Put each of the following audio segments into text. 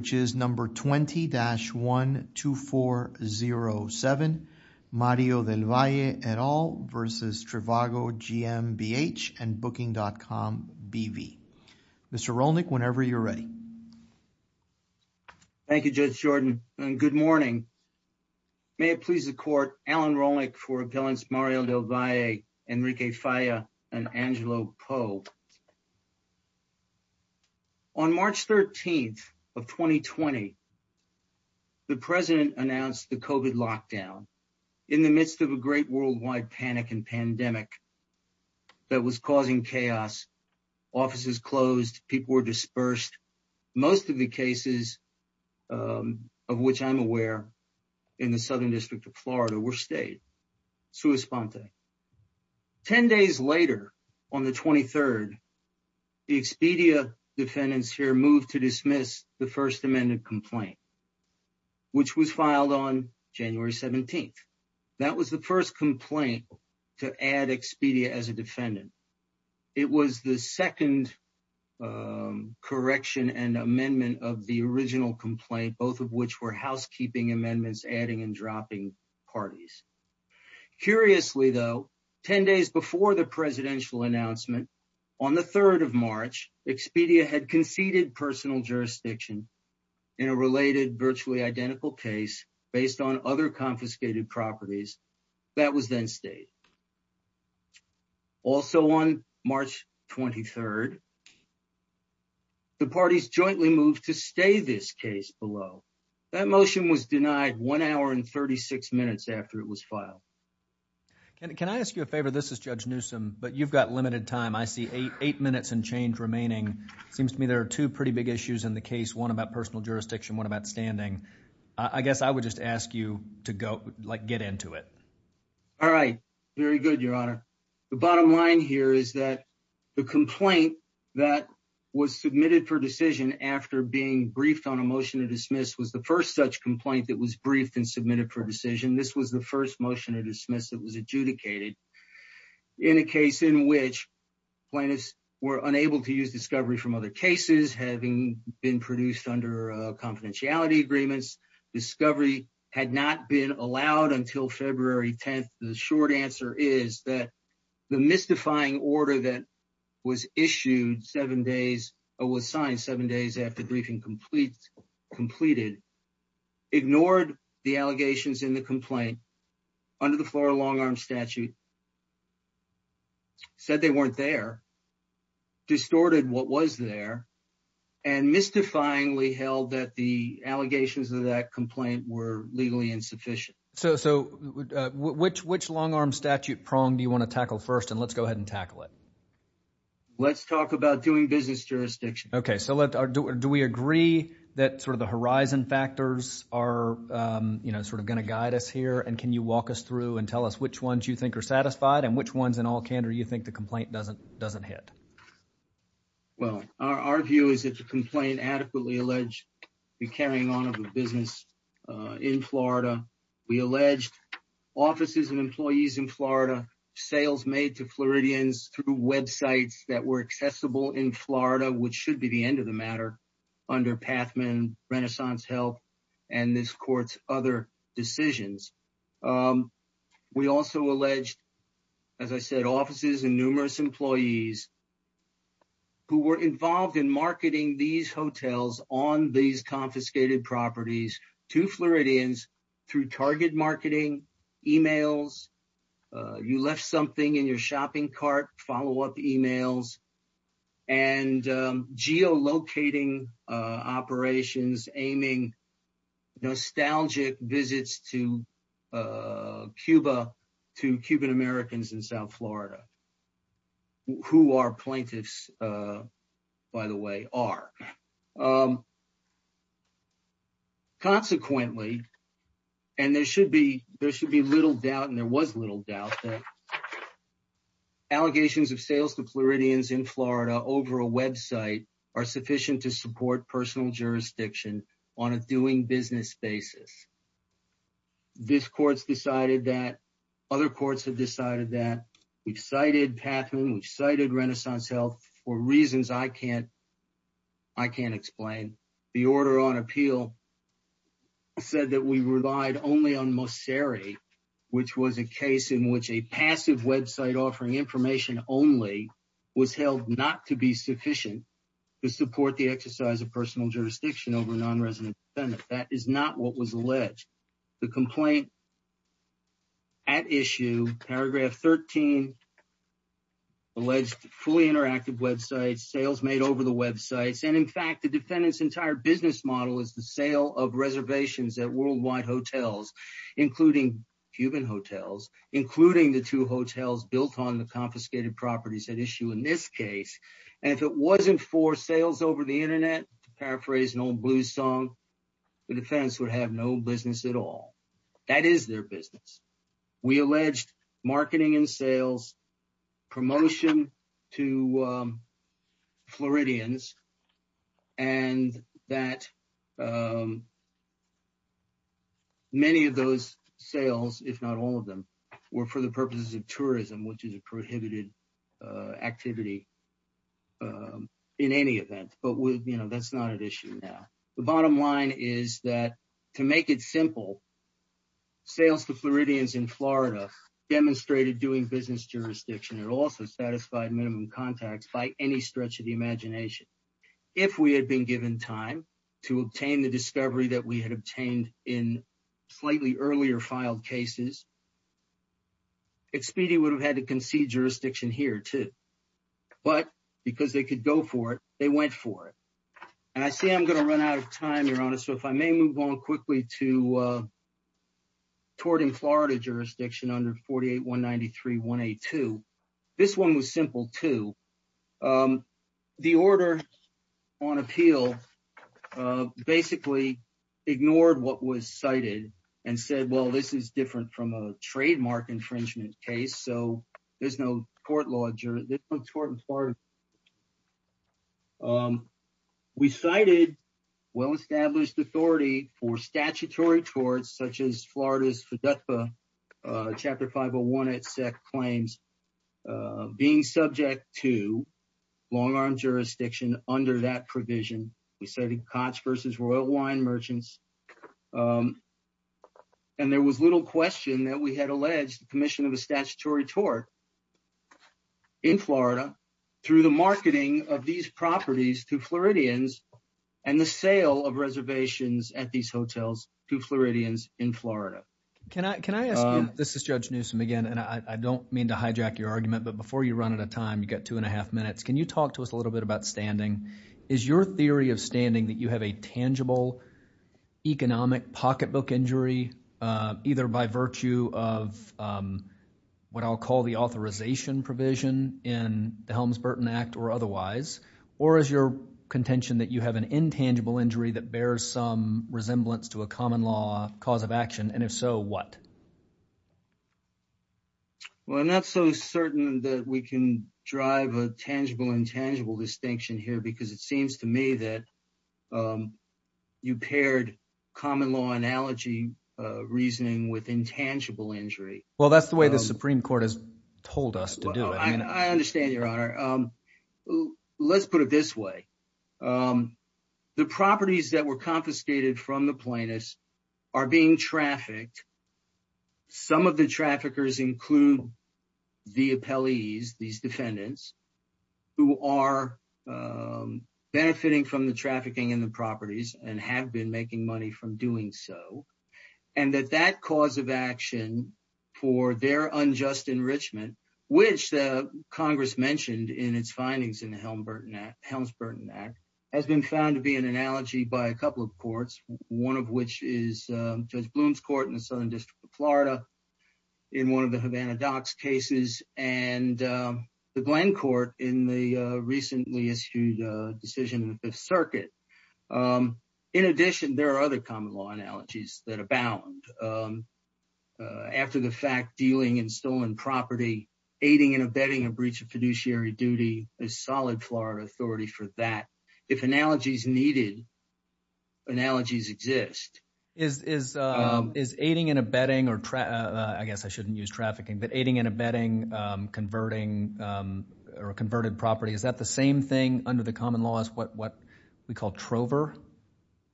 which is number 20-12407 Mario Del Valle et al versus Trivago GMBH and Booking.com BV. Mr. Rolnick whenever you're ready. Thank you Judge Jordan and good morning. May it please the court Alan Rolnick for appellants Mario Del Valle, Enrique Falla and Angelo Poe. On March 13th of 2020, the president announced the COVID lockdown in the midst of a great worldwide panic and pandemic that was causing chaos, offices closed, people were dispersed. Most of the cases of which I'm aware in the Southern District of Florida were stayed. Ten days later, on the 23rd, the Expedia defendants here moved to dismiss the First Amendment complaint which was filed on January 17th. That was the first complaint to add Expedia as a defendant. It was the second correction and amendment of the original complaint, both of which were Curiously though, 10 days before the presidential announcement, on the 3rd of March, Expedia had conceded personal jurisdiction in a related virtually identical case based on other confiscated properties that was then stayed. Also on March 23rd, the parties jointly moved to stay this case below. That motion was denied one hour and 36 minutes after it was filed. Can I ask you a favor? This is Judge Newsom, but you've got limited time. I see eight minutes and change remaining. Seems to me there are two pretty big issues in the case. One about personal jurisdiction, one about standing. I guess I would just ask you to go like get into it. All right. Very good. Your honor. The bottom line here is that the complaint that was submitted for decision after being briefed on a motion to dismiss was the first such complaint that was briefed and submitted for decision. This was the first motion to dismiss that was adjudicated in a case in which plaintiffs were unable to use discovery from other cases having been produced under confidentiality agreements. Discovery had not been allowed until February 10th. The short answer is that the mystifying order that was issued seven days or was signed seven days after briefing complete completed ignored the allegations in the complaint under the floor long arm statute. Said they weren't there. Distorted what was there and mystifyingly held that the allegations of that complaint were legally insufficient. So which which long arm statute prong do you want to tackle first and let's go ahead and tackle it. Let's talk about doing business jurisdiction. OK. So do we agree that sort of the horizon factors are, you know, sort of going to guide us here. And can you walk us through and tell us which ones you think are satisfied and which ones in all candor you think the complaint doesn't doesn't hit. Well, our view is that the complaint adequately alleged be carrying on of a business in Florida. We alleged offices and employees in Florida sales made to Floridians through websites that were accessible in Florida, which should be the end of the matter under Pathman Renaissance Health and this court's other decisions. We also alleged, as I said, offices and numerous employees who were involved in marketing these hotels on these confiscated properties to Floridians through target marketing emails. You left something in your shopping cart, follow up emails and geo locating operations aiming nostalgic visits to Cuba, to Cuban-Americans in South Florida. Who are plaintiffs, by the way, are. Now, consequently, and there should be there should be little doubt and there was little doubt that allegations of sales to Floridians in Florida over a Web site are sufficient to support personal jurisdiction on a doing business basis. This court's decided that other courts have decided that we've cited Pathman, we've cited Renaissance Health for reasons I can't I can't explain. The order on appeal said that we relied only on Mosseri, which was a case in which a passive Web site offering information only was held not to be sufficient to support the exercise of personal jurisdiction over a nonresident defendant. That is not what was alleged. The complaint. At issue, paragraph 13. Alleged fully interactive Web sites, sales made over the Web sites, and in fact, the defendant's entire business model is the sale of reservations at worldwide hotels, including Cuban hotels, including the two hotels built on the confiscated properties at issue in this case. And if it wasn't for sales over the Internet, paraphrase an old blues song, the defense would have no business at all. That is their business. We alleged marketing and sales promotion to Floridians. And that. Many of those sales, if not all of them, were for the purposes of tourism, which is a prohibited activity in any event, but that's not an issue now. The bottom line is that to make it simple. Sales to Floridians in Florida demonstrated doing business jurisdiction, it also satisfied minimum contacts by any stretch of the imagination. If we had been given time to obtain the discovery that we had obtained in slightly earlier filed cases. Expedia would have had to concede jurisdiction here, too, but because they could go for it, they went for it. And I see I'm going to run out of time, you're honest, so if I may move on quickly to. Toward in Florida jurisdiction under forty eight one ninety three one eight two, this one was simple to the order on appeal, basically ignored what was cited and said, well, this is different from a trademark infringement case, so there's no court this court in Florida. We cited well-established authority for statutory towards such as Florida's chapter five or one, it claims being subject to long arm jurisdiction under that provision. We say the cons versus royal wine merchants. And there was little question that we had alleged the commission of a statutory toward. In Florida, through the marketing of these properties to Floridians and the sale of reservations at these hotels to Floridians in Florida, can I can I ask? This is Judge Newsome again, and I don't mean to hijack your argument, but before you run out of time, you got two and a half minutes. Can you talk to us a little bit about standing? Is your theory of standing that you have a tangible economic pocketbook injury either by virtue of what I'll call the authorization provision in the Helms Burton Act or otherwise, or is your contention that you have an intangible injury that bears some resemblance to a common law cause of action? And if so, what? Well, I'm not so certain that we can drive a tangible intangible distinction here because it seems to me that you paired common law analogy reasoning with intangible injury. Well, that's the way the Supreme Court has told us to do it. And I understand your honor. Let's put it this way. The properties that were confiscated from the plaintiffs are being trafficked. Some of the traffickers include the appellees, these defendants who are benefiting from the trafficking in the properties and have been making money from doing so, and that that cause of action for their unjust enrichment, which Congress mentioned in its findings in the Helms Burton Act, has been found to be an analogy by a couple of courts, one of which is Judge Bloom's court in the Southern District of Florida in one of the Havana docks cases and the Glenn court in the recently issued decision in the Fifth Circuit. In addition, there are other common law analogies that abound after the fact dealing in stolen property, aiding and abetting a breach of fiduciary duty is solid Florida authority for that. If analogies needed. Analogies exist, is is is aiding and abetting or I guess I shouldn't use trafficking, but aiding and abetting, converting or converted property, is that the same thing under the common law is what what we call Trover?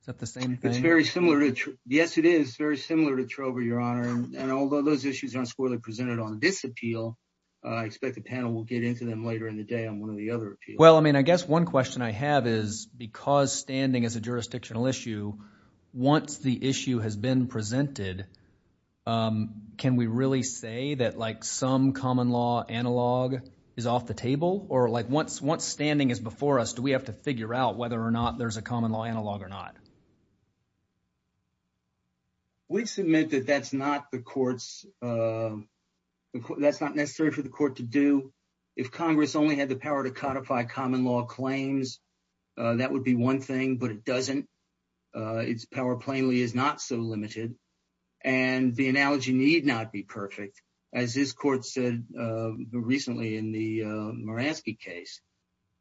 Is that the same thing? It's very similar. Yes, it is very similar to Trover, your honor, and although those issues aren't squarely presented on this appeal, I expect the panel will get into them later in the day on one of the other. Well, I mean, I guess one question I have is because standing as a jurisdictional issue, once the issue has been presented, can we really say that like some common law analog is off the table or like once once standing is before us, do we have to figure out whether or not there's a common law analog or not? We submit that that's not the courts, that's not necessary for the court to do. If Congress only had the power to codify common law claims, that would be one thing, but it doesn't. Its power plainly is not so limited. And the analogy need not be perfect, as this court said recently in the Maransky case,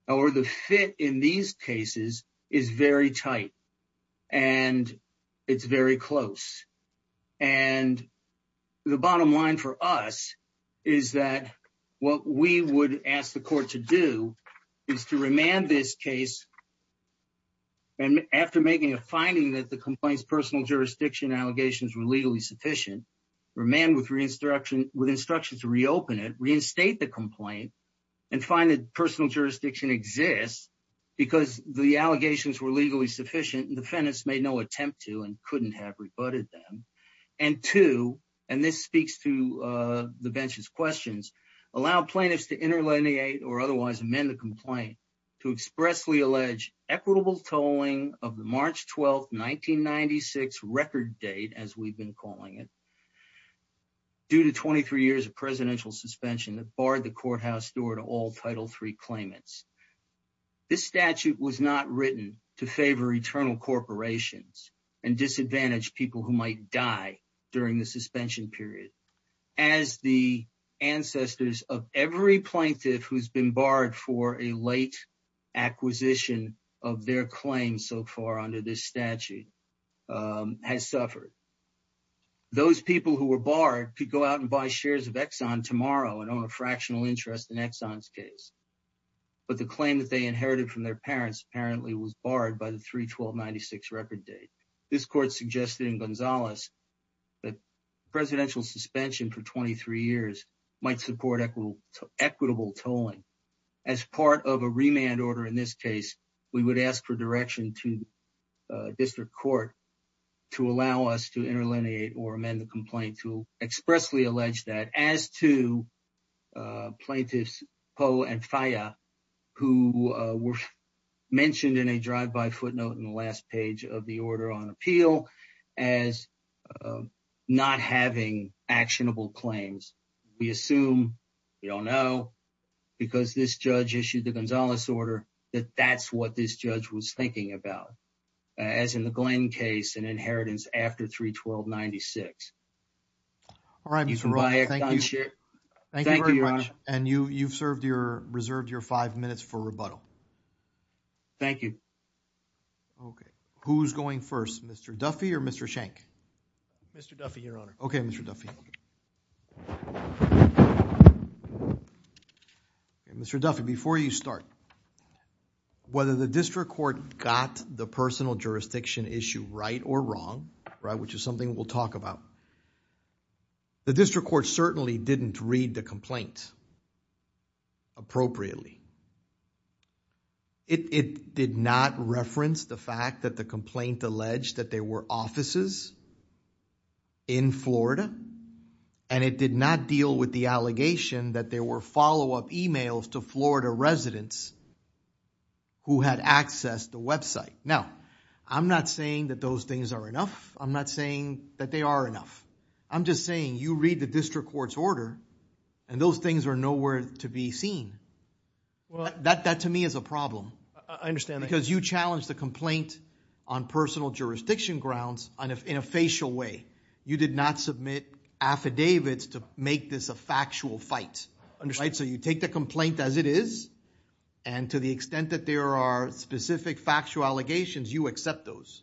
or the fit in these cases is very tight and it's very close. And the bottom line for us is that what we would ask the court to do is to remand this case. And after making a finding that the complaints personal jurisdiction allegations were legally sufficient, remand with instruction with instructions to reopen it, reinstate the complaint and find that personal jurisdiction exists because the allegations were legally sufficient and defendants made no attempt to and couldn't have rebutted them. And two, and this speaks to the bench's questions, allow plaintiffs to interlineate or otherwise amend the complaint to expressly allege equitable tolling of the March 12, 1996 record date, as we've been calling it. Due to 23 years of presidential suspension that barred the courthouse door to all Title III claimants, this statute was not written to favor eternal corporations and disadvantage people who might die during the suspension period, as the ancestors of every plaintiff who's been barred for a late acquisition of their claim so far under this statute has suffered. Those people who were barred could go out and buy shares of Exxon tomorrow and own a but the claim that they inherited from their parents apparently was barred by the 312 96 record date. This court suggested in Gonzalez that presidential suspension for 23 years might support equitable tolling as part of a remand order. In this case, we would ask for direction to district court to allow us to interlineate or amend the complaint to expressly allege that as to plaintiffs Poe and Faya who were mentioned in a drive-by footnote in the last page of the order on appeal as not having actionable claims. We assume, we don't know, because this judge issued the Gonzalez order that that's what this judge was thinking about. As in the Glenn case and inheritance after 312 96. All right, thank you very much and you you've served your reserved your five minutes for rebuttal. Thank you. Okay, who's going first Mr. Duffy or Mr. Shank? Mr. Duffy, your honor. Okay, Mr. Duffy. Okay, Mr. Duffy, before you start, whether the district court got the personal jurisdiction issue right or wrong, right, which is something we'll talk about. The district court certainly didn't read the complaint appropriately. It did not reference the fact that the complaint alleged that there were offices in Florida and it did not deal with the allegation that there were follow-up emails to Florida residents who had accessed the website. Now, I'm not saying that those things are enough. I'm not saying that they are enough. I'm just saying you read the district court's order and those things are nowhere to be seen. Well, that that to me is a problem. I understand because you challenge the complaint on personal jurisdiction grounds and if in a facial way, you did not submit affidavits to make this a factual fight, right? So you take the complaint as it is and to the extent that there are specific factual allegations, you accept those.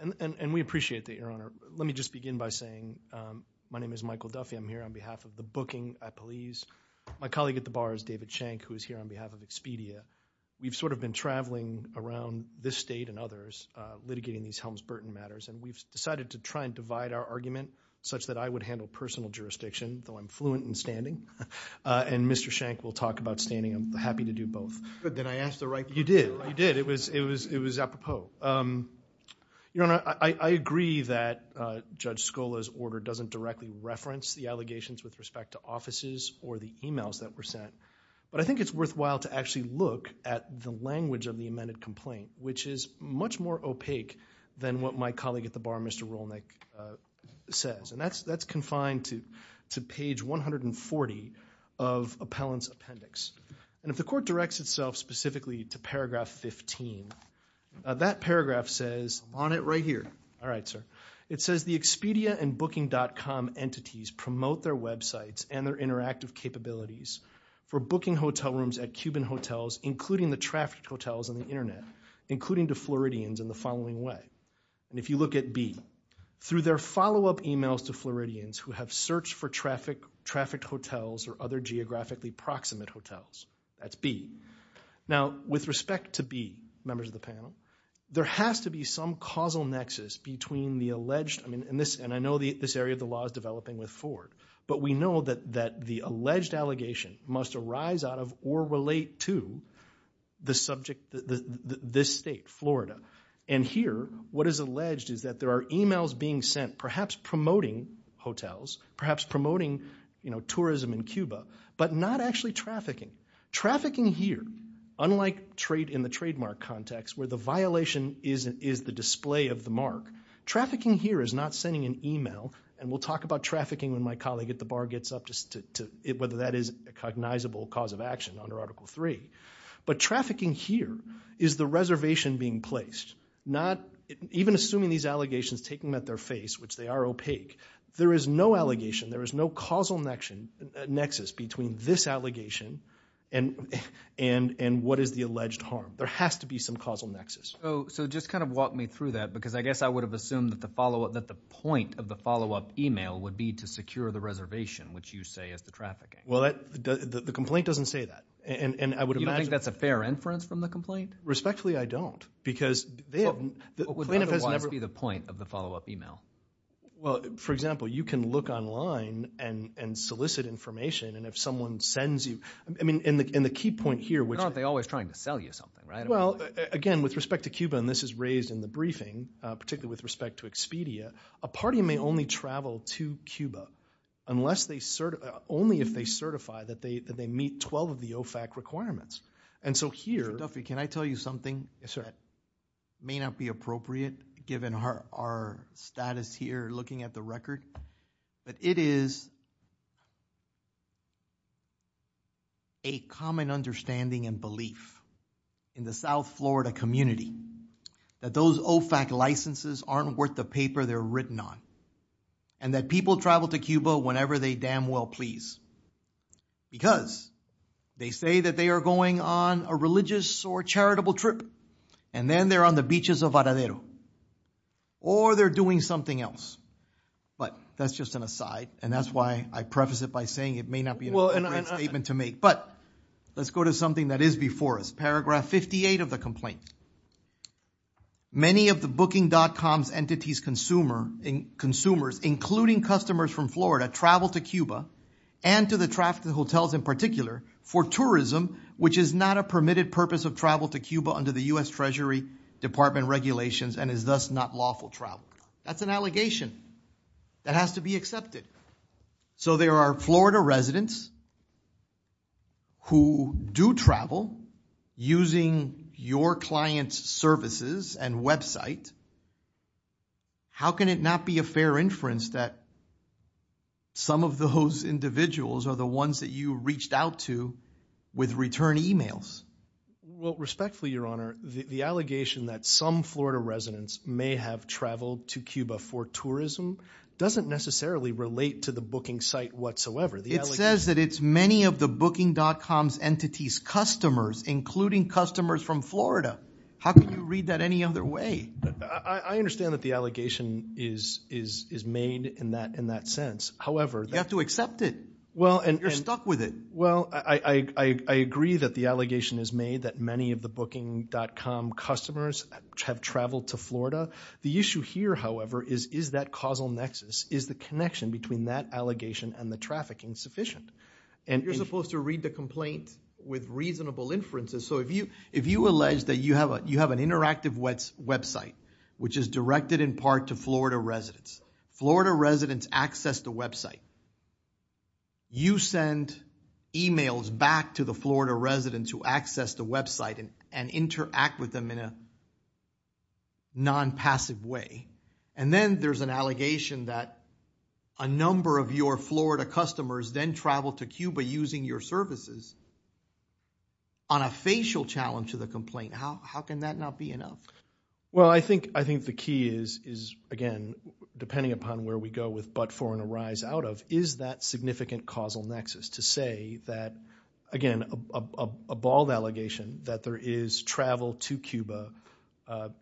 And we appreciate that, your honor. Let me just begin by saying my name is Michael Duffy. I'm here on behalf of the booking at police. My colleague at the bar is David Shank, who is here on behalf of Expedia. We've sort of been traveling around this state and others litigating these Helms-Burton matters and we've decided to try and divide our argument such that I would handle personal jurisdiction, though I'm fluent in standing. And Mr. Shank will talk about standing. I'm happy to do both. Did I ask the right question? You did, you did. It was apropos. Your honor, I agree that Judge Scola's order doesn't directly reference the allegations with respect to offices or the emails that were sent. But I think it's worthwhile to actually look at the language of the amended complaint, which is much more opaque than what my colleague at the bar, Mr. Rolnick, says. And that's confined to page 140 of appellant's appendix. And if the court directs itself specifically to paragraph 15, that paragraph says, on it right here, all right, sir. It says, the Expedia and booking.com entities promote their websites and their interactive capabilities for booking hotel rooms at Cuban hotels, including the trafficked hotels on the internet, including to Floridians in the following way. And if you look at B, through their follow up emails to Floridians who have searched for trafficked hotels or other geographically proximate hotels, that's B. Now, with respect to B, members of the panel, there has to be some causal nexus between the alleged, I mean, and I know this area of the law is developing with Ford, but we know that the alleged allegation must arise out of or relate to the subject, this state, Florida. And here, what is alleged is that there are emails being sent, perhaps promoting hotels, perhaps promoting tourism in Cuba, but not actually trafficking. Trafficking here, unlike in the trademark context, where the violation is the display of the mark, trafficking here is not sending an email, and we'll talk about trafficking when my colleague at the bar gets up, whether that is a cognizable cause of action under Article 3. But trafficking here is the reservation being placed, not, even assuming these allegations, taking them at their face, which they are opaque, there is no allegation, there is no causal nexus between this allegation and what is the alleged harm. There has to be some causal nexus. So just kind of walk me through that, because I guess I would have assumed that the point of the follow-up email would be to secure the reservation, which you say is the trafficking. Well, the complaint doesn't say that, and I would imagine— You don't think that's a fair inference from the complaint? Respectfully, I don't, because— What would otherwise be the point of the follow-up email? Well, for example, you can look online and solicit information, and if someone sends you—I mean, and the key point here, which— But aren't they always trying to sell you something, right? Well, again, with respect to Cuba, and this is raised in the briefing, particularly with to Cuba, unless they—only if they certify that they meet 12 of the OFAC requirements. And so here— Mr. Duffy, can I tell you something that may not be appropriate, given our status here, looking at the record? But it is a common understanding and belief in the South Florida community that those OFAC licenses aren't worth the paper they're written on, and that people travel to Cuba whenever they damn well please, because they say that they are going on a religious or charitable trip, and then they're on the beaches of Aradero, or they're doing something else. But that's just an aside, and that's why I preface it by saying it may not be a great statement to make. But let's go to something that is before us, paragraph 58 of the complaint. Many of the booking.com's entities' consumers, including customers from Florida, travel to Cuba, and to the traffic of the hotels in particular, for tourism, which is not a permitted purpose of travel to Cuba under the U.S. Treasury Department regulations, and is thus not lawful travel. That's an allegation that has to be accepted. So there are Florida residents who do travel using your client's services and website. How can it not be a fair inference that some of those individuals are the ones that you reached out to with return emails? Well, respectfully, Your Honor, the allegation that some Florida residents may have traveled to Cuba for tourism doesn't necessarily relate to the booking site whatsoever. It says that it's many of the booking.com's entities' customers, including customers from Florida. How can you read that any other way? I understand that the allegation is made in that sense. However— You have to accept it. You're stuck with it. Well, I agree that the allegation is made that many of the booking.com customers have traveled to Florida. The issue here, however, is, is that causal nexus? Is the connection between that allegation and the trafficking sufficient? And— You're supposed to read the complaint with reasonable inferences. So if you— If you allege that you have an interactive website, which is directed in part to Florida residents, Florida residents access the website, you send emails back to the Florida residents who access the website and interact with them in a non-passive way, and then there's an allegation that a number of your Florida customers then travel to Cuba using your services on a facial challenge to the complaint, how can that not be enough? Well, I think the key is, again, depending upon where we go with but for and arise out of, is that significant causal nexus to say that, again, a bald allegation that there is travel to Cuba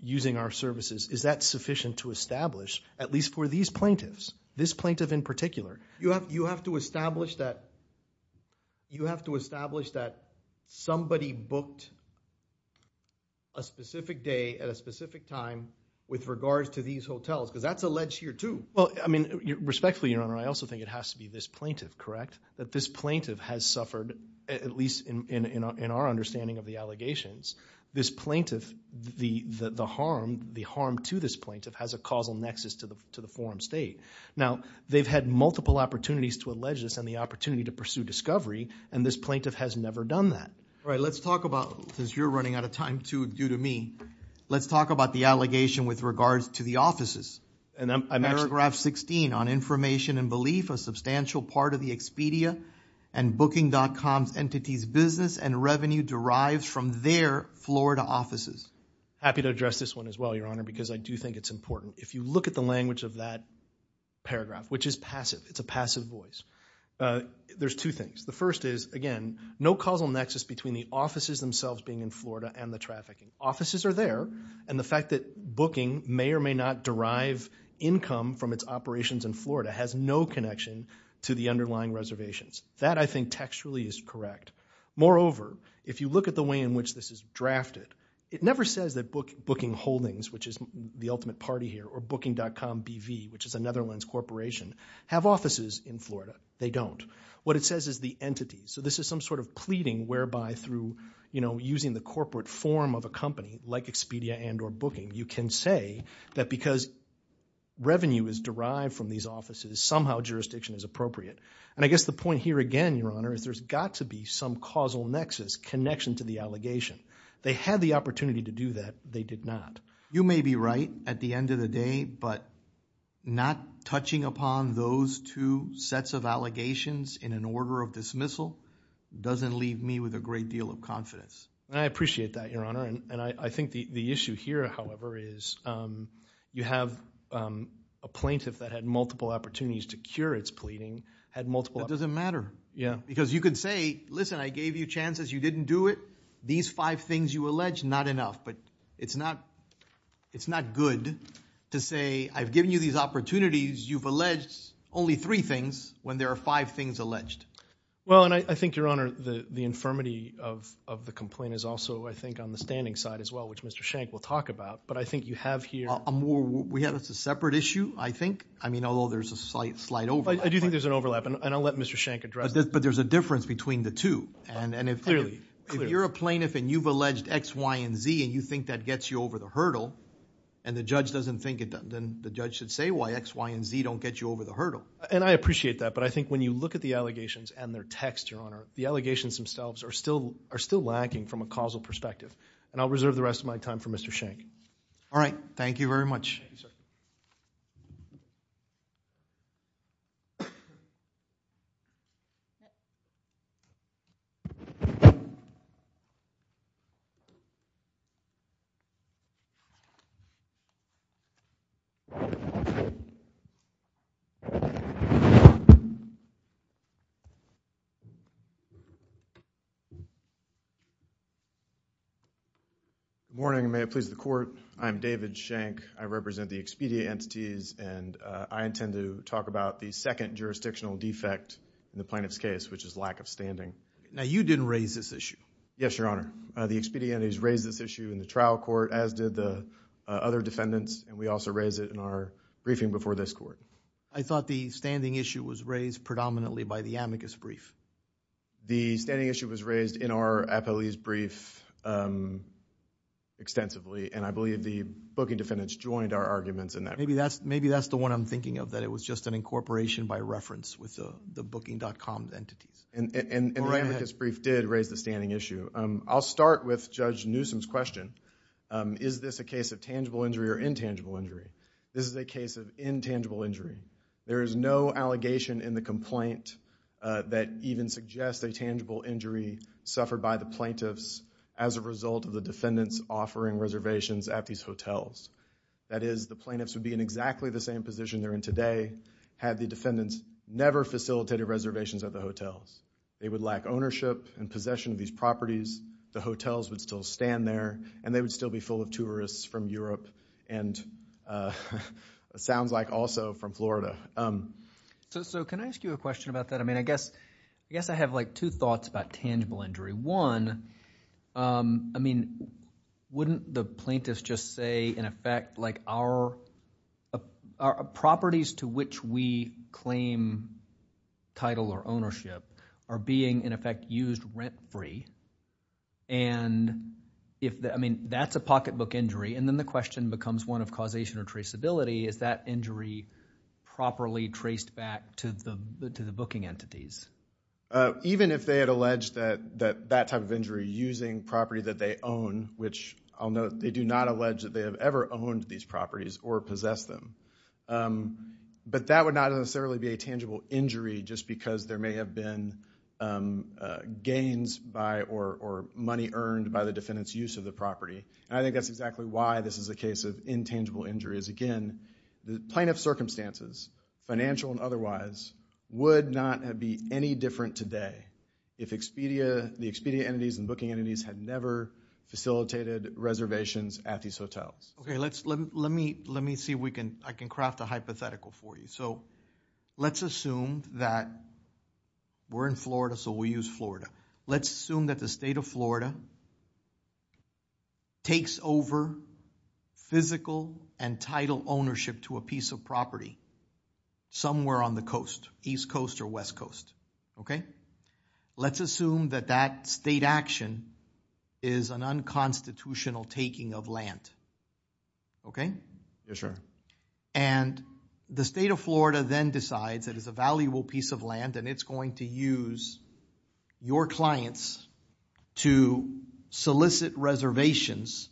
using our services, is that sufficient to establish, at least for these plaintiffs, this plaintiff in particular? You have to establish that somebody booked a specific day at a specific time with regards to these hotels, because that's alleged here, too. I mean, respectfully, Your Honor, I also think it has to be this plaintiff, correct? That this plaintiff has suffered, at least in our understanding of the allegations, this plaintiff, the harm to this plaintiff has a causal nexus to the forum state. Now, they've had multiple opportunities to allege this and the opportunity to pursue discovery, and this plaintiff has never done that. All right, let's talk about, since you're running out of time, too, due to me, let's talk about the allegation with regards to the offices. Paragraph 16, on information and belief, a substantial part of the Expedia and Booking.com's entities' business and revenue derives from their Florida offices. Happy to address this one as well, Your Honor, because I do think it's important. If you look at the language of that paragraph, which is passive, it's a passive voice, there's two things. The first is, again, no causal nexus between the offices themselves being in Florida and the trafficking. Offices are there, and the fact that Booking may or may not derive income from its operations in Florida has no connection to the underlying reservations. That, I think, textually is correct. Moreover, if you look at the way in which this is drafted, it never says that Booking Holdings, which is the ultimate party here, or Booking.com BV, which is a Netherlands corporation, have offices in Florida. They don't. What it says is the entities. So this is some sort of pleading whereby through, you know, using the corporate form of a company like Expedia and or Booking, you can say that because revenue is derived from these offices, somehow jurisdiction is appropriate. And I guess the point here again, Your Honor, is there's got to be some causal nexus, connection to the allegation. They had the opportunity to do that. They did not. You may be right at the end of the day, but not touching upon those two sets of allegations in an order of dismissal doesn't leave me with a great deal of confidence. And I appreciate that, Your Honor. And I think the issue here, however, is you have a plaintiff that had multiple opportunities to cure its pleading, had multiple- That doesn't matter. Yeah. Because you could say, listen, I gave you chances. You didn't do it. These five things you allege, not enough. But it's not good to say I've given you these opportunities. You've alleged only three things when there are five things alleged. Well, and I think, Your Honor, the infirmity of the complaint is also, I think, on the standing side as well, which Mr. Shank will talk about. But I think you have here- We have a separate issue, I think. I mean, although there's a slight overlap. I do think there's an overlap, and I'll let Mr. Shank address that. But there's a difference between the two. And if you're a plaintiff and you've alleged X, Y, and Z, and you think that gets you over the hurdle, and the judge doesn't think it does, then the judge should say Y, X, Y, and Z don't get you over the hurdle. And I appreciate that. But I think when you look at the allegations and their text, Your Honor, the allegations themselves are still lacking from a causal perspective. And I'll reserve the rest of my time for Mr. Shank. All right. Thank you very much. Good morning, and may it please the Court. I'm David Shank. I represent the Expedia entities, and I intend to talk about the second jurisdictional defect in the plaintiff's case, which is lack of standing. Now, you didn't raise this issue. Yes, Your Honor. The Expedia entities raised this issue in the trial court, as did the other defendants, and we also raised it in our briefing before this Court. I thought the standing issue was raised predominantly by the amicus brief. The standing issue was raised in our appellee's brief extensively. And I believe the booking defendants joined our arguments in that brief. Maybe that's the one I'm thinking of, that it was just an incorporation by reference with the booking.com entities. And the amicus brief did raise the standing issue. I'll start with Judge Newsom's question. Is this a case of tangible injury or intangible injury? This is a case of intangible injury. There is no allegation in the complaint that even suggests a tangible injury suffered by the plaintiffs as a result of the defendants offering reservations at these hotels. That is, the plaintiffs would be in exactly the same position they're in today, had the defendants never facilitated reservations at the hotels. They would lack ownership and possession of these properties. The hotels would still stand there, and they would still be full of tourists from Europe and it sounds like also from Florida. So can I ask you a question about that? I mean, I guess I have like two thoughts about tangible injury. One, I mean, wouldn't the plaintiffs just say, in effect, our properties to which we claim title or ownership are being, in effect, used rent-free? And I mean, that's a pocketbook injury. And then the question becomes one of causation or traceability. Is that injury properly traced back to the booking entities? Even if they had alleged that that type of injury using property that they own, which I'll note, they do not allege that they have ever owned these properties or possessed them. But that would not necessarily be a tangible injury just because there may have been gains by or money earned by the defendant's use of the property. And I think that's exactly why this is a case of intangible injuries. Again, the plaintiff's circumstances, financial and otherwise, would not be any different today if the Expedia entities and booking entities had never facilitated reservations at these hotels. Okay, let me see if I can craft a hypothetical for you. So let's assume that we're in Florida, so we use Florida. Let's assume that the state of Florida takes over physical and title ownership to a piece of property somewhere on the coast, east coast or west coast, okay? Let's assume that that state action is an unconstitutional taking of land, okay? And the state of Florida then decides it is a valuable piece of land and it's going to use your clients to solicit reservations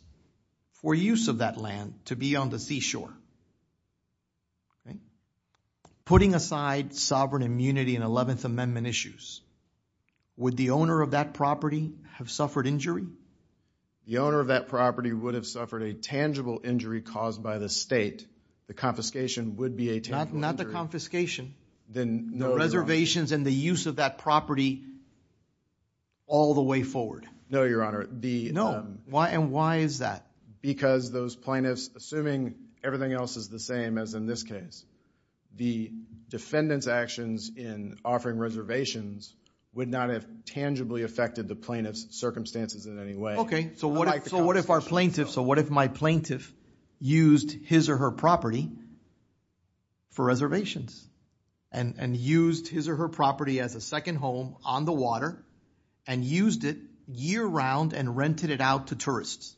for use of that land to be on the seashore. Putting aside sovereign immunity and 11th Amendment issues, would the owner of that property have suffered injury? The owner of that property would have suffered a tangible injury caused by the state. The confiscation would be a tangible injury. Not the confiscation, the reservations and the use of that property all the way forward. No, Your Honor. And why is that? Because those plaintiffs, assuming everything else is the same as in this case, the defendant's actions in offering reservations would not have tangibly affected the plaintiff's circumstances in any way. Okay, so what if our plaintiff, so what if my plaintiff used his or her property for reservations and used his or her property as a second home on the water and used it year-round and rented it out to tourists?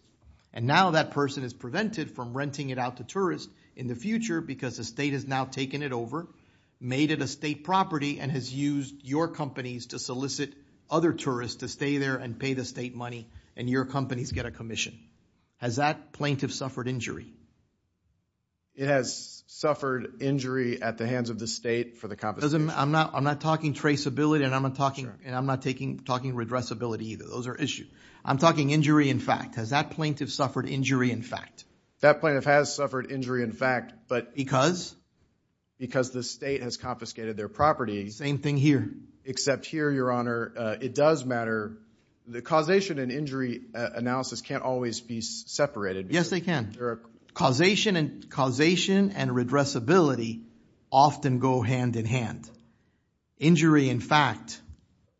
And now that person is prevented from renting it out to tourists in the future because the state has now taken it over, made it a state property, and has used your companies to solicit other tourists to stay there and pay the state money and your companies get a commission. Has that plaintiff suffered injury? It has suffered injury at the hands of the state for the confiscation. I'm not talking traceability and I'm not talking redressability either. Those are issues. I'm talking injury in fact. Has that plaintiff suffered injury in fact? That plaintiff has suffered injury in fact, but... Because? Because the state has confiscated their property. Same thing here. Except here, your honor, it does matter. The causation and injury analysis can't always be separated. Yes, they can. Causation and redressability often go hand in hand. Injury in fact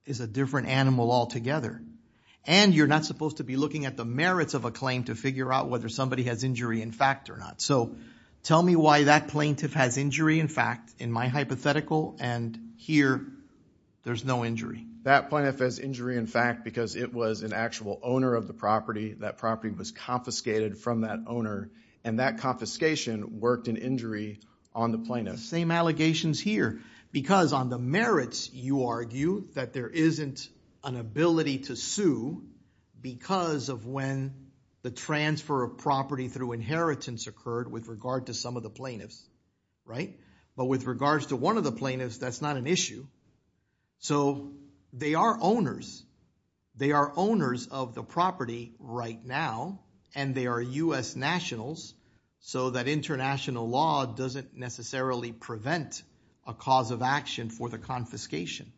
is a different animal altogether. And you're not supposed to be looking at the merits of a claim to figure out whether somebody has injury in fact or not. So tell me why that plaintiff has injury in fact in my hypothetical, and here there's no injury. That plaintiff has injury in fact because it was an actual owner of the property. That property was confiscated from that owner and that confiscation worked in injury on the plaintiff. Same allegations here. Because on the merits, you argue that there isn't an ability to sue because of when the transfer of property through inheritance occurred with regard to some of the plaintiffs, right? But with regards to one of the plaintiffs, that's not an issue. So they are owners. They are owners of the property right now and they are U.S. nationals. So that international law doesn't necessarily prevent a cause of action for the confiscation.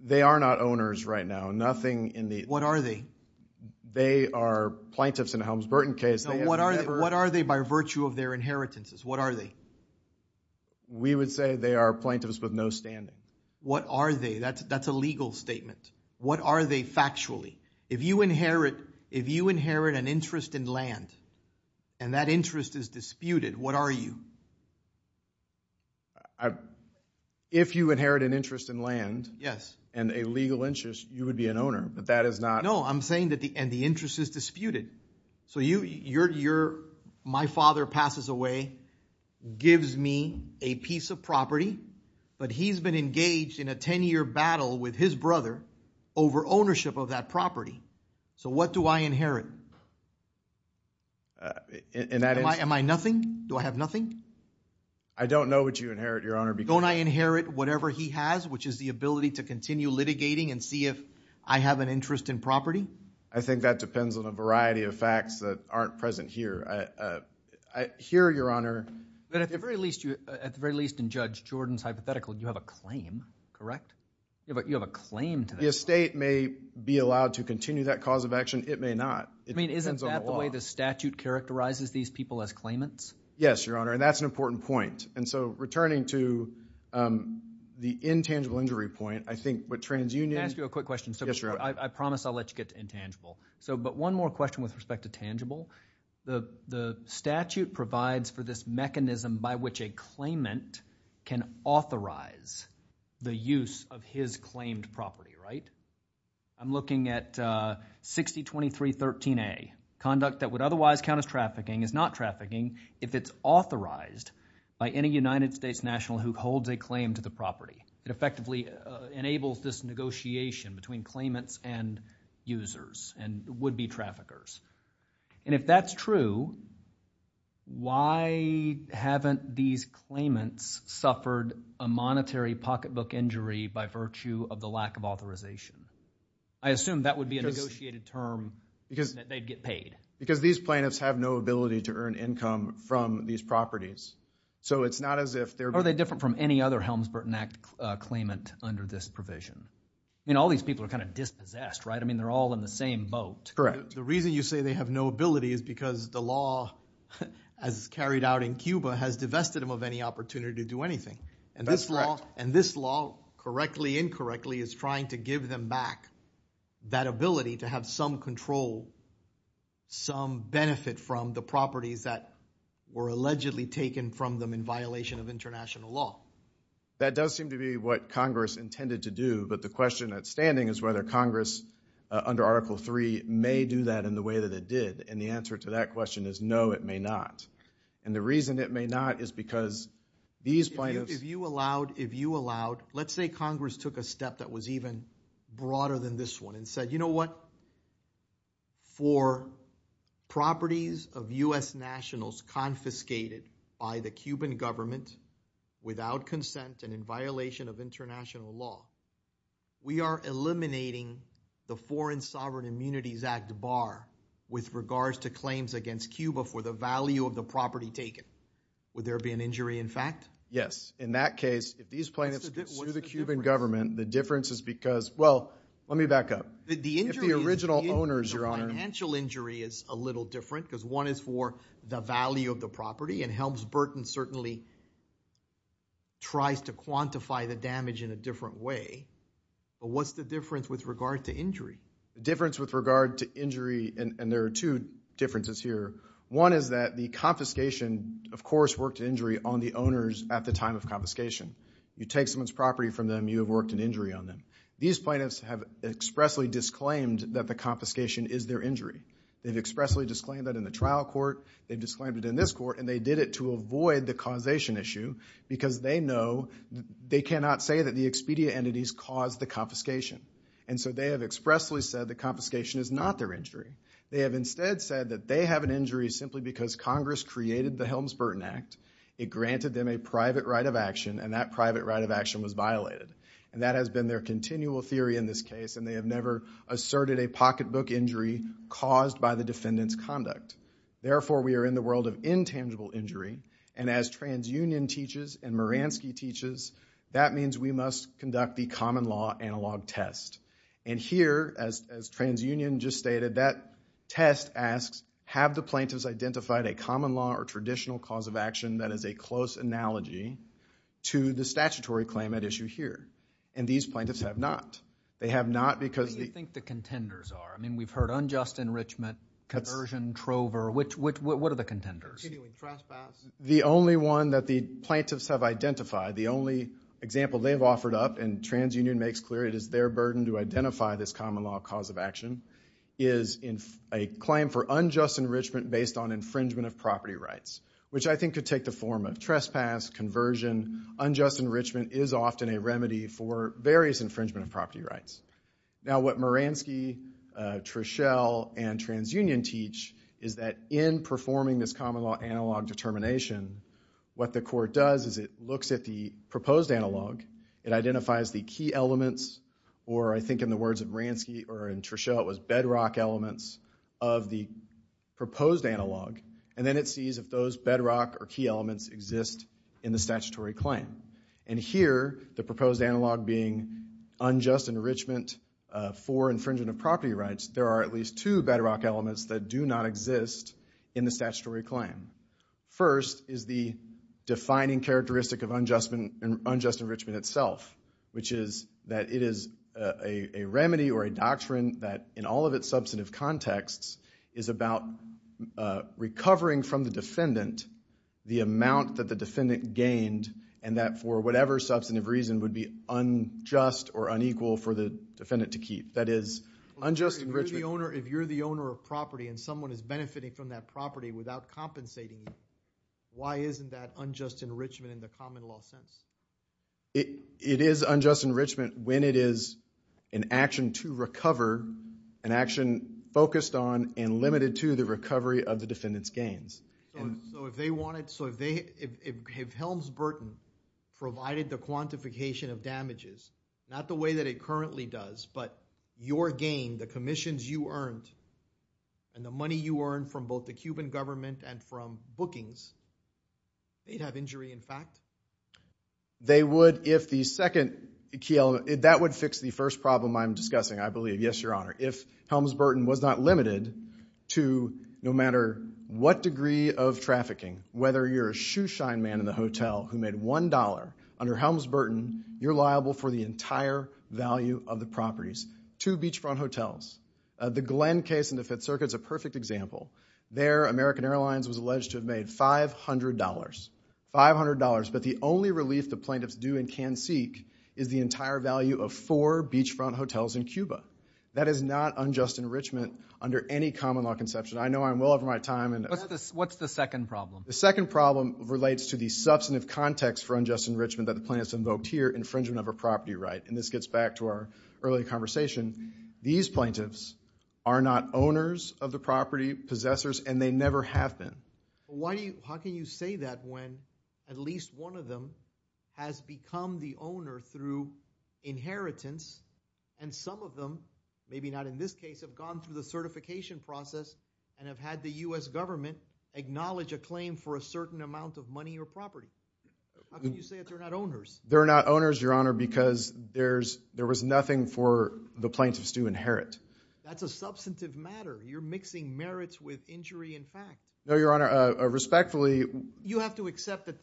They are not owners right now. Nothing in the... What are they? They are plaintiffs in the Helms-Burton case. What are they by virtue of their inheritances? What are they? We would say they are plaintiffs with no standing. What are they? That's a legal statement. What are they factually? If you inherit an interest in land and that interest is disputed, what are you? If you inherit an interest in land and a legal interest, you would be an owner. But that is not... I'm saying that the interest is disputed. So my father passes away, gives me a piece of property, but he's been engaged in a 10-year battle with his brother over ownership of that property. So what do I inherit? Am I nothing? Do I have nothing? I don't know what you inherit, Your Honor. Don't I inherit whatever he has, which is the ability to continue litigating and see if I have an interest in property? I think that depends on a variety of facts that aren't present here. Here, Your Honor... But at the very least, in Judge Jordan's hypothetical, you have a claim, correct? Yeah, but you have a claim to that. The estate may be allowed to continue that cause of action. It may not. I mean, isn't that the way the statute characterizes these people as claimants? Yes, Your Honor. And that's an important point. And so returning to the intangible injury point, I think what TransUnion... Yes, Your Honor. I promise I'll let you get to intangible. But one more question with respect to tangible. The statute provides for this mechanism by which a claimant can authorize the use of his claimed property, right? I'm looking at 6023.13a. Conduct that would otherwise count as trafficking is not trafficking if it's authorized by any United States national who holds a claim to the property. It effectively enables this negotiation between claimants and users and would-be traffickers. And if that's true, why haven't these claimants suffered a monetary pocketbook injury by virtue of the lack of authorization? I assume that would be a negotiated term that they'd get paid. Because these plaintiffs have no ability to earn income from these properties. So it's not as if they're... claimant under this provision. I mean, all these people are kind of dispossessed, right? I mean, they're all in the same boat. Correct. The reason you say they have no ability is because the law as carried out in Cuba has divested them of any opportunity to do anything. And this law, correctly, incorrectly is trying to give them back that ability to have some control, some benefit from the properties that were allegedly taken from them in violation of international law. That does seem to be what Congress intended to do. But the question that's standing is whether Congress under Article 3 may do that in the way that it did. And the answer to that question is no, it may not. And the reason it may not is because these plaintiffs... If you allowed, if you allowed, let's say Congress took a step that was even broader than this one and said, you know what? For properties of U.S. nationals confiscated by the Cuban government without consent and in violation of international law, we are eliminating the Foreign Sovereign Immunities Act bar with regards to claims against Cuba for the value of the property taken. Would there be an injury in fact? Yes. In that case, if these plaintiffs sue the Cuban government, the difference is because... Well, let me back up. If the original owners... The financial injury is a little different because one is for the value of the property and Helms-Burton certainly tries to quantify the damage in a different way. But what's the difference with regard to injury? The difference with regard to injury, and there are two differences here. One is that the confiscation, of course, worked to injury on the owners at the time of confiscation. You take someone's property from them, you have worked an injury on them. These plaintiffs have expressly disclaimed that the confiscation is their injury. They've expressly disclaimed that in the trial court, they've disclaimed it in this court, and they did it to avoid the causation issue because they know they cannot say that the expedia entities caused the confiscation. And so they have expressly said the confiscation is not their injury. They have instead said that they have an injury simply because Congress created the Helms-Burton Act. It granted them a private right of action and that private right of action was violated. And that has been their continual theory in this case. And they have never asserted a pocketbook injury caused by the defendant's conduct. Therefore, we are in the world of intangible injury. And as TransUnion teaches and Moransky teaches, that means we must conduct the common law analog test. And here, as TransUnion just stated, that test asks, have the plaintiffs identified a common law or traditional cause of action that is a close analogy to the statutory claim at issue here? And these plaintiffs have not. They have not because... What do you think the contenders are? I mean, we've heard unjust enrichment, conversion, trover. What are the contenders? The only one that the plaintiffs have identified, the only example they've offered up, and TransUnion makes clear it is their burden to identify this common law cause of action, is a claim for unjust enrichment based on infringement of property rights, which I think could take the form of trespass, conversion. Unjust enrichment is often a remedy for various infringement of property rights. Now, what Moransky, Treschel, and TransUnion teach is that in performing this common law analog determination, what the court does is it looks at the proposed analog. It identifies the key elements, or I think in the words of Moransky or in Treschel, it was bedrock elements of the proposed analog. And then it sees if those bedrock or key elements exist in the statutory claim. And here, the proposed analog being unjust enrichment for infringement of property rights, there are at least two bedrock elements that do not exist in the statutory claim. First is the defining characteristic of unjust enrichment itself, which is that it is a remedy or a doctrine that in all of its substantive contexts is about recovering from the defendant the amount that the defendant gained, and that for whatever substantive reason would be unjust or unequal for the defendant to keep. That is, unjust enrichment... If you're the owner of property and someone is benefiting from that property without compensating, why isn't that unjust enrichment in the common law sense? It is unjust enrichment when it is an action to recover, an action focused on and limited to the recovery of the defendant's gains. So, if they wanted... So, if Helms Burton provided the quantification of damages, not the way that it currently does, but your gain, the commissions you earned, and the money you earned from both the Cuban government and from bookings, they'd have injury in fact? They would if the second key element... If Helms Burton was not limited to no matter what degree of trafficking, whether you're a shoeshine man in the hotel who made $1, under Helms Burton, you're liable for the entire value of the properties. Two beachfront hotels. The Glenn case in the Fifth Circuit is a perfect example. There, American Airlines was alleged to have made $500. $500, but the only relief the plaintiffs do and can seek is the entire value of four beachfront hotels in Cuba. That is not unjust enrichment under any common law conception. I know I'm well over my time and... What's the second problem? The second problem relates to the substantive context for unjust enrichment that the plaintiffs invoked here, infringement of a property right. And this gets back to our earlier conversation. These plaintiffs are not owners of the property, possessors, and they never have been. Why do you... How can you say that when at least one of them has become the owner through inheritance and some of them, maybe not in this case, have gone through the certification process and have had the U.S. government acknowledge a claim for a certain amount of money or property? How can you say that they're not owners? They're not owners, Your Honor, because there was nothing for the plaintiffs to inherit. That's a substantive matter. You're mixing merits with injury in fact. No, Your Honor, respectfully... You have to accept that...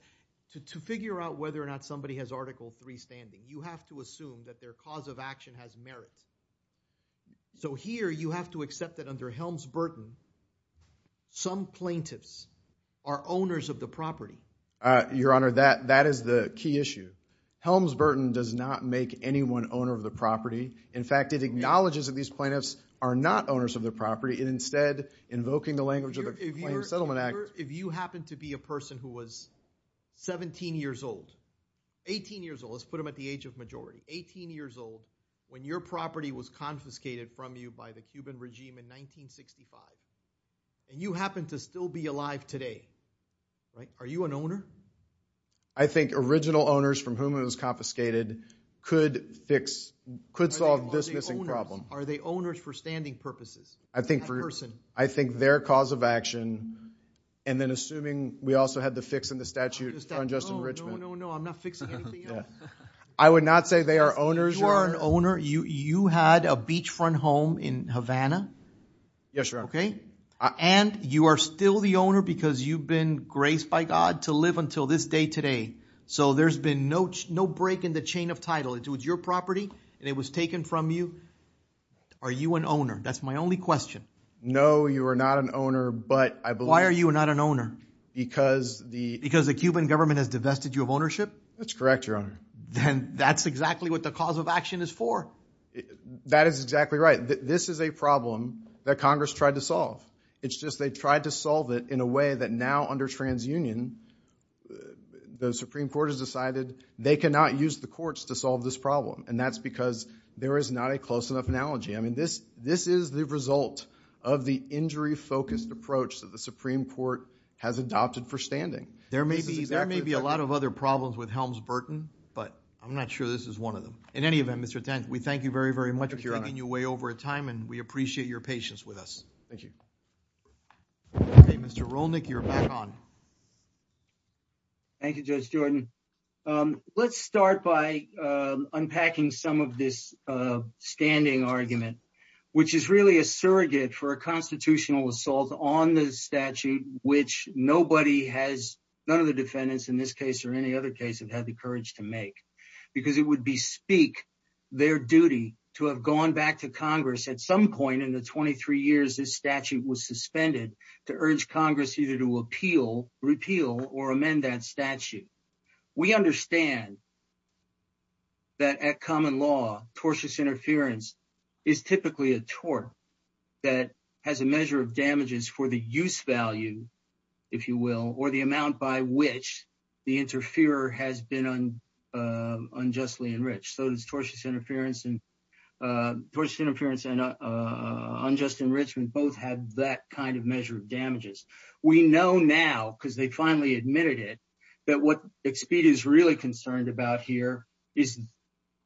To figure out whether or not somebody has Article III standing, you have to assume that their cause of action has merits. So here, you have to accept that under Helms-Burton, some plaintiffs are owners of the property. Your Honor, that is the key issue. Helms-Burton does not make anyone owner of the property. In fact, it acknowledges that these plaintiffs are not owners of the property and instead invoking the language of the Claims Settlement Act... If you happen to be a person who was 17 years old, 18 years old, let's put them at the age of majority, 18 years old, when your property was confiscated from you by the Cuban regime in 1965 and you happen to still be alive today, are you an owner? I think original owners from whom it was confiscated could fix, could solve this missing problem. Are they owners for standing purposes? I think their cause of action, and then assuming we also had the fix in the statute on Justin Richmond... No, I'm not fixing anything else. I would not say they are owners. You are an owner. You had a beachfront home in Havana? Yes, Your Honor. Okay, and you are still the owner because you've been graced by God to live until this day today. So there's been no break in the chain of title. It was your property and it was taken from you. Are you an owner? That's my only question. No, you are not an owner, but I believe... Why are you not an owner? Because the... That's correct, Your Honor. Then that's exactly what the cause of action is for. That is exactly right. This is a problem that Congress tried to solve. It's just they tried to solve it in a way that now under TransUnion, the Supreme Court has decided they cannot use the courts to solve this problem, and that's because there is not a close enough analogy. I mean, this is the result of the injury-focused approach that the Supreme Court has adopted for standing. There may be a lot of other problems with Helms-Burton, but I'm not sure this is one of them. In any event, Mr. Tent, we thank you very, very much for taking you away over time, and we appreciate your patience with us. Thank you. Okay, Mr. Rolnick, you're back on. Thank you, Judge Jordan. Let's start by unpacking some of this standing argument, which is really a surrogate for a constitutional assault on the statute, which nobody has, none of the defendants in this case or any other case, have had the courage to make because it would bespeak their duty to have gone back to Congress at some point in the 23 years this statute was suspended to urge Congress either to appeal, repeal, or amend that statute. We understand that at common law, tortious interference is typically a tort that has a measure of damages for the use value, if you will, or the amount by which the interferer has been unjustly enriched. So it's tortious interference and unjust enrichment both have that kind of measure of damages. We know now, because they finally admitted it, that what Expedia is really concerned about here is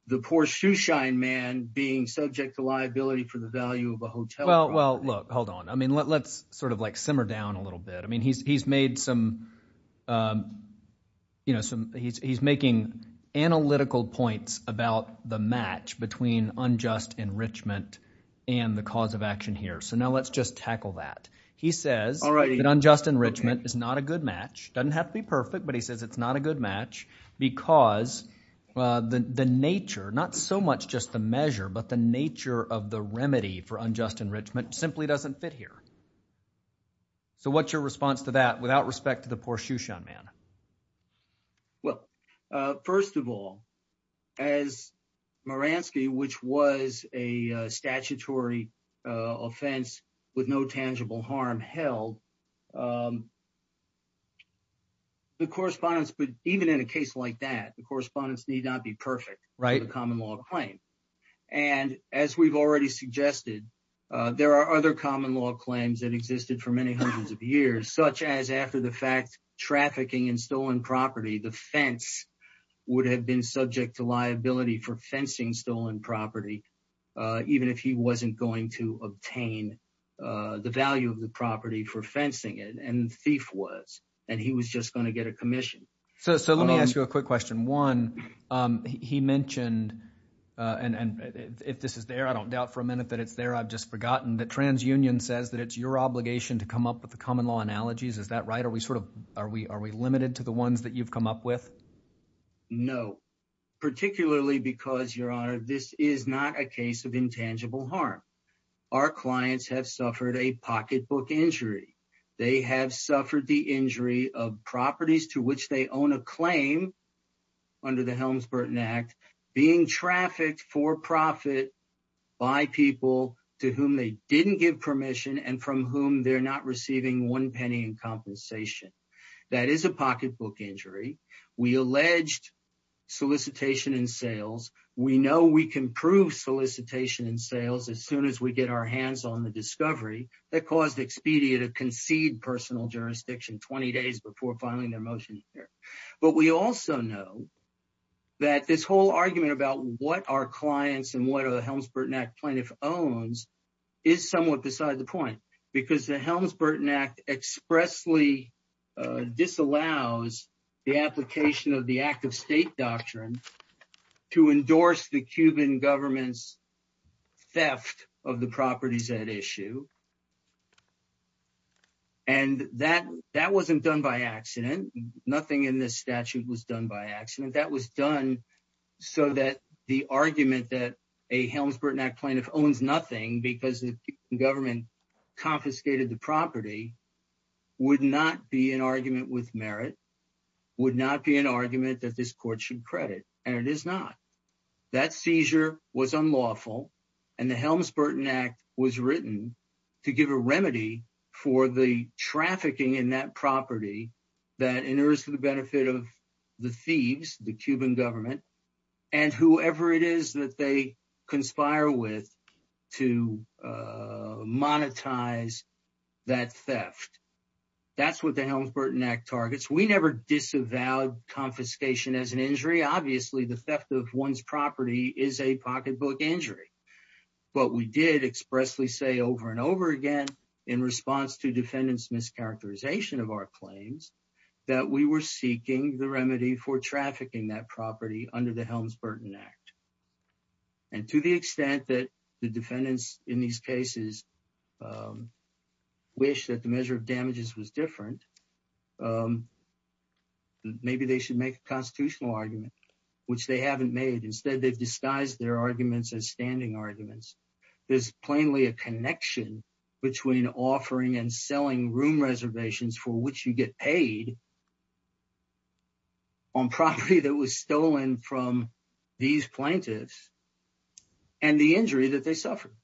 the poor shoeshine man being subject to liability for the value of a hotel property. Well, look, hold on. I mean, let's sort of like simmer down a little bit. I mean, he's made some, you know, he's making analytical points about the match between unjust enrichment and the cause of action here. So now let's just tackle that. He says that unjust enrichment is not a good match. Doesn't have to be perfect, but he says it's not a good match because the nature, not so much just the measure, but the nature of the remedy for unjust enrichment simply doesn't fit here. So what's your response to that without respect to the poor shoeshine man? Well, first of all, as Maransky, which was a statutory offense with no tangible harm held, the correspondence, but even in a case like that, the correspondence need not be perfect for the common law to claim. And as we've already suggested, there are other common law claims that existed for many hundreds of years, such as after the fact, trafficking in stolen property, the fence would have been subject to liability for fencing stolen property, even if he wasn't going to obtain the value of the property for fencing it. And thief was, and he was just going to get a commission. So let me ask you a quick question. One, he mentioned, and if this is there, I don't doubt for a minute that it's there. I've just forgotten that TransUnion says that it's your obligation to come up with the common law analogies. Is that right? Are we sort of, are we, are we limited to the ones that you've come up with? No, particularly because your honor, this is not a case of intangible harm. Our clients have suffered a pocketbook injury. They have suffered the injury of properties to which they own a claim under the Helms Burton Act being trafficked for profit by people to whom they didn't give permission and from whom they're not receiving one penny in compensation. That is a pocketbook injury. We alleged solicitation and sales. We know we can prove solicitation and sales as soon as we get our hands on the discovery that caused Expedia to concede personal jurisdiction 20 days before filing their motion here. But we also know that this whole argument about what our clients and what are the Helms Burton Act plaintiff owns is somewhat beside the point because the Helms Burton Act expressly disallows the application of the act of state doctrine to endorse the Cuban government's theft of the properties at issue. And that wasn't done by accident. Nothing in this statute was done by accident. That was done so that the argument that a Helms Burton Act plaintiff owns nothing because the government confiscated the property would not be an argument with merit, would not be an argument that this court should credit. And it is not. That seizure was unlawful. And the Helms Burton Act was written to give a remedy for the trafficking in that property that enters for the benefit of the thieves, the Cuban government and whoever it is that they conspire with to monetize that theft. That's what the Helms Burton Act targets. We never disavowed confiscation as an injury. Obviously, the theft of one's property is a pocketbook injury. But we did expressly say over and over again in response to defendants mischaracterization of our claims that we were seeking the remedy for trafficking that property under the Helms Burton Act. And to the extent that the defendants in these cases wish that the measure of damages was different, maybe they should make a constitutional argument, which they haven't made. Instead, they've disguised their arguments as standing arguments. There's plainly a connection between offering and selling room reservations for which you get paid on property that was stolen from these plaintiffs and the injury that they suffered.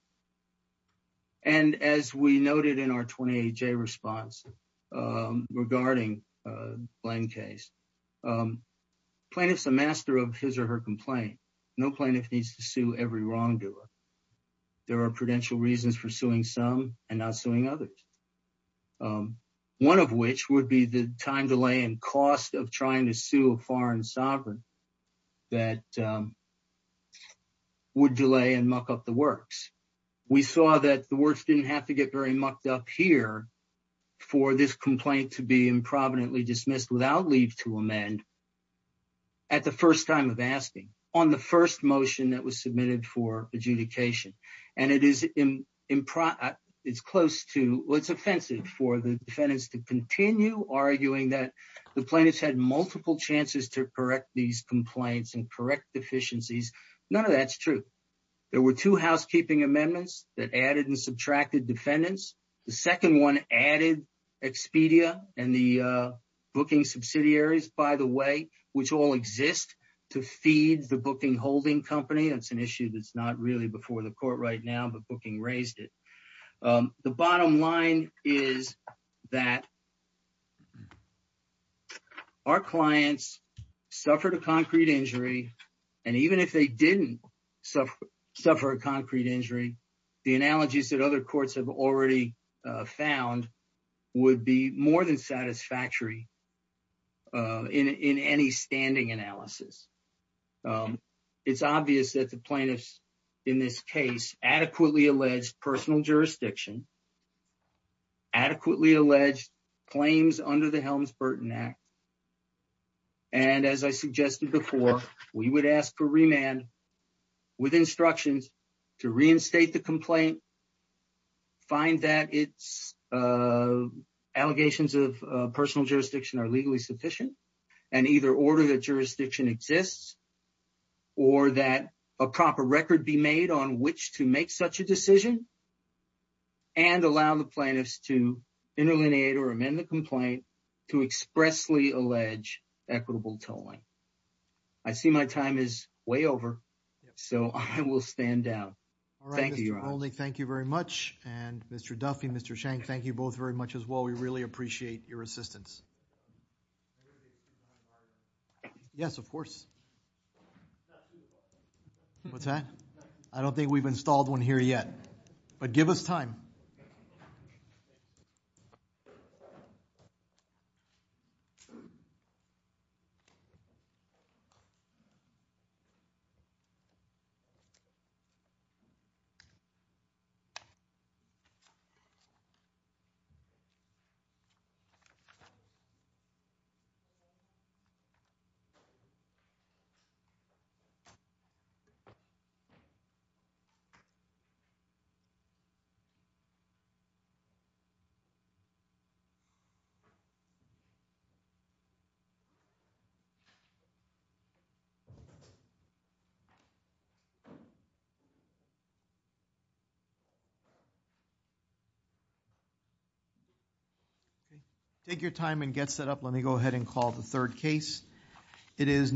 And as we noted in our 28-J response, regarding the Blaine case, plaintiff's a master of his or her complaint. No plaintiff needs to sue every wrongdoer. There are prudential reasons for suing some and not suing others. One of which would be the time delay and cost of trying to sue a foreign sovereign that would delay and muck up the works. We saw that the works didn't have to get very mucked up here for this complaint to be improvidently dismissed without leave to amend at the first time of asking on the first motion that was submitted for adjudication. And it's offensive for the defendants to continue arguing that the plaintiffs had multiple chances to correct these complaints and correct deficiencies. None of that's true. There were two housekeeping amendments that added and subtracted defendants. The second one added Expedia and the booking subsidiaries, by the way, which all exist to feed the booking holding company. That's an issue that's not really before the court right now, but booking raised it. The bottom line is that our clients suffered a concrete injury and even if they didn't suffer a concrete injury, the analogies that other courts have already found would be more than satisfactory in any standing analysis. It's obvious that the plaintiffs in this case adequately alleged personal jurisdiction, adequately alleged claims under the Helms-Burton Act. And as I suggested before, we would ask for remand with instructions to reinstate the complaint, find that it's allegations of personal jurisdiction are legally sufficient and either order that jurisdiction exists or that a proper record be made on which to make such a decision and allow the plaintiffs to interlineate or amend the complaint to expressly allege equitable tolling. I see my time is way over. So I will stand down. Thank you, Your Honor. All right, Mr. Rolney, thank you very much. And Mr. Duffy, Mr. Shank, thank you both very much as well. We really appreciate your assistance. Yes, of course. What's that? I don't think we've installed one here yet, but give us time. Okay. Take your time and get set up. Let me go ahead and call the third case. It is...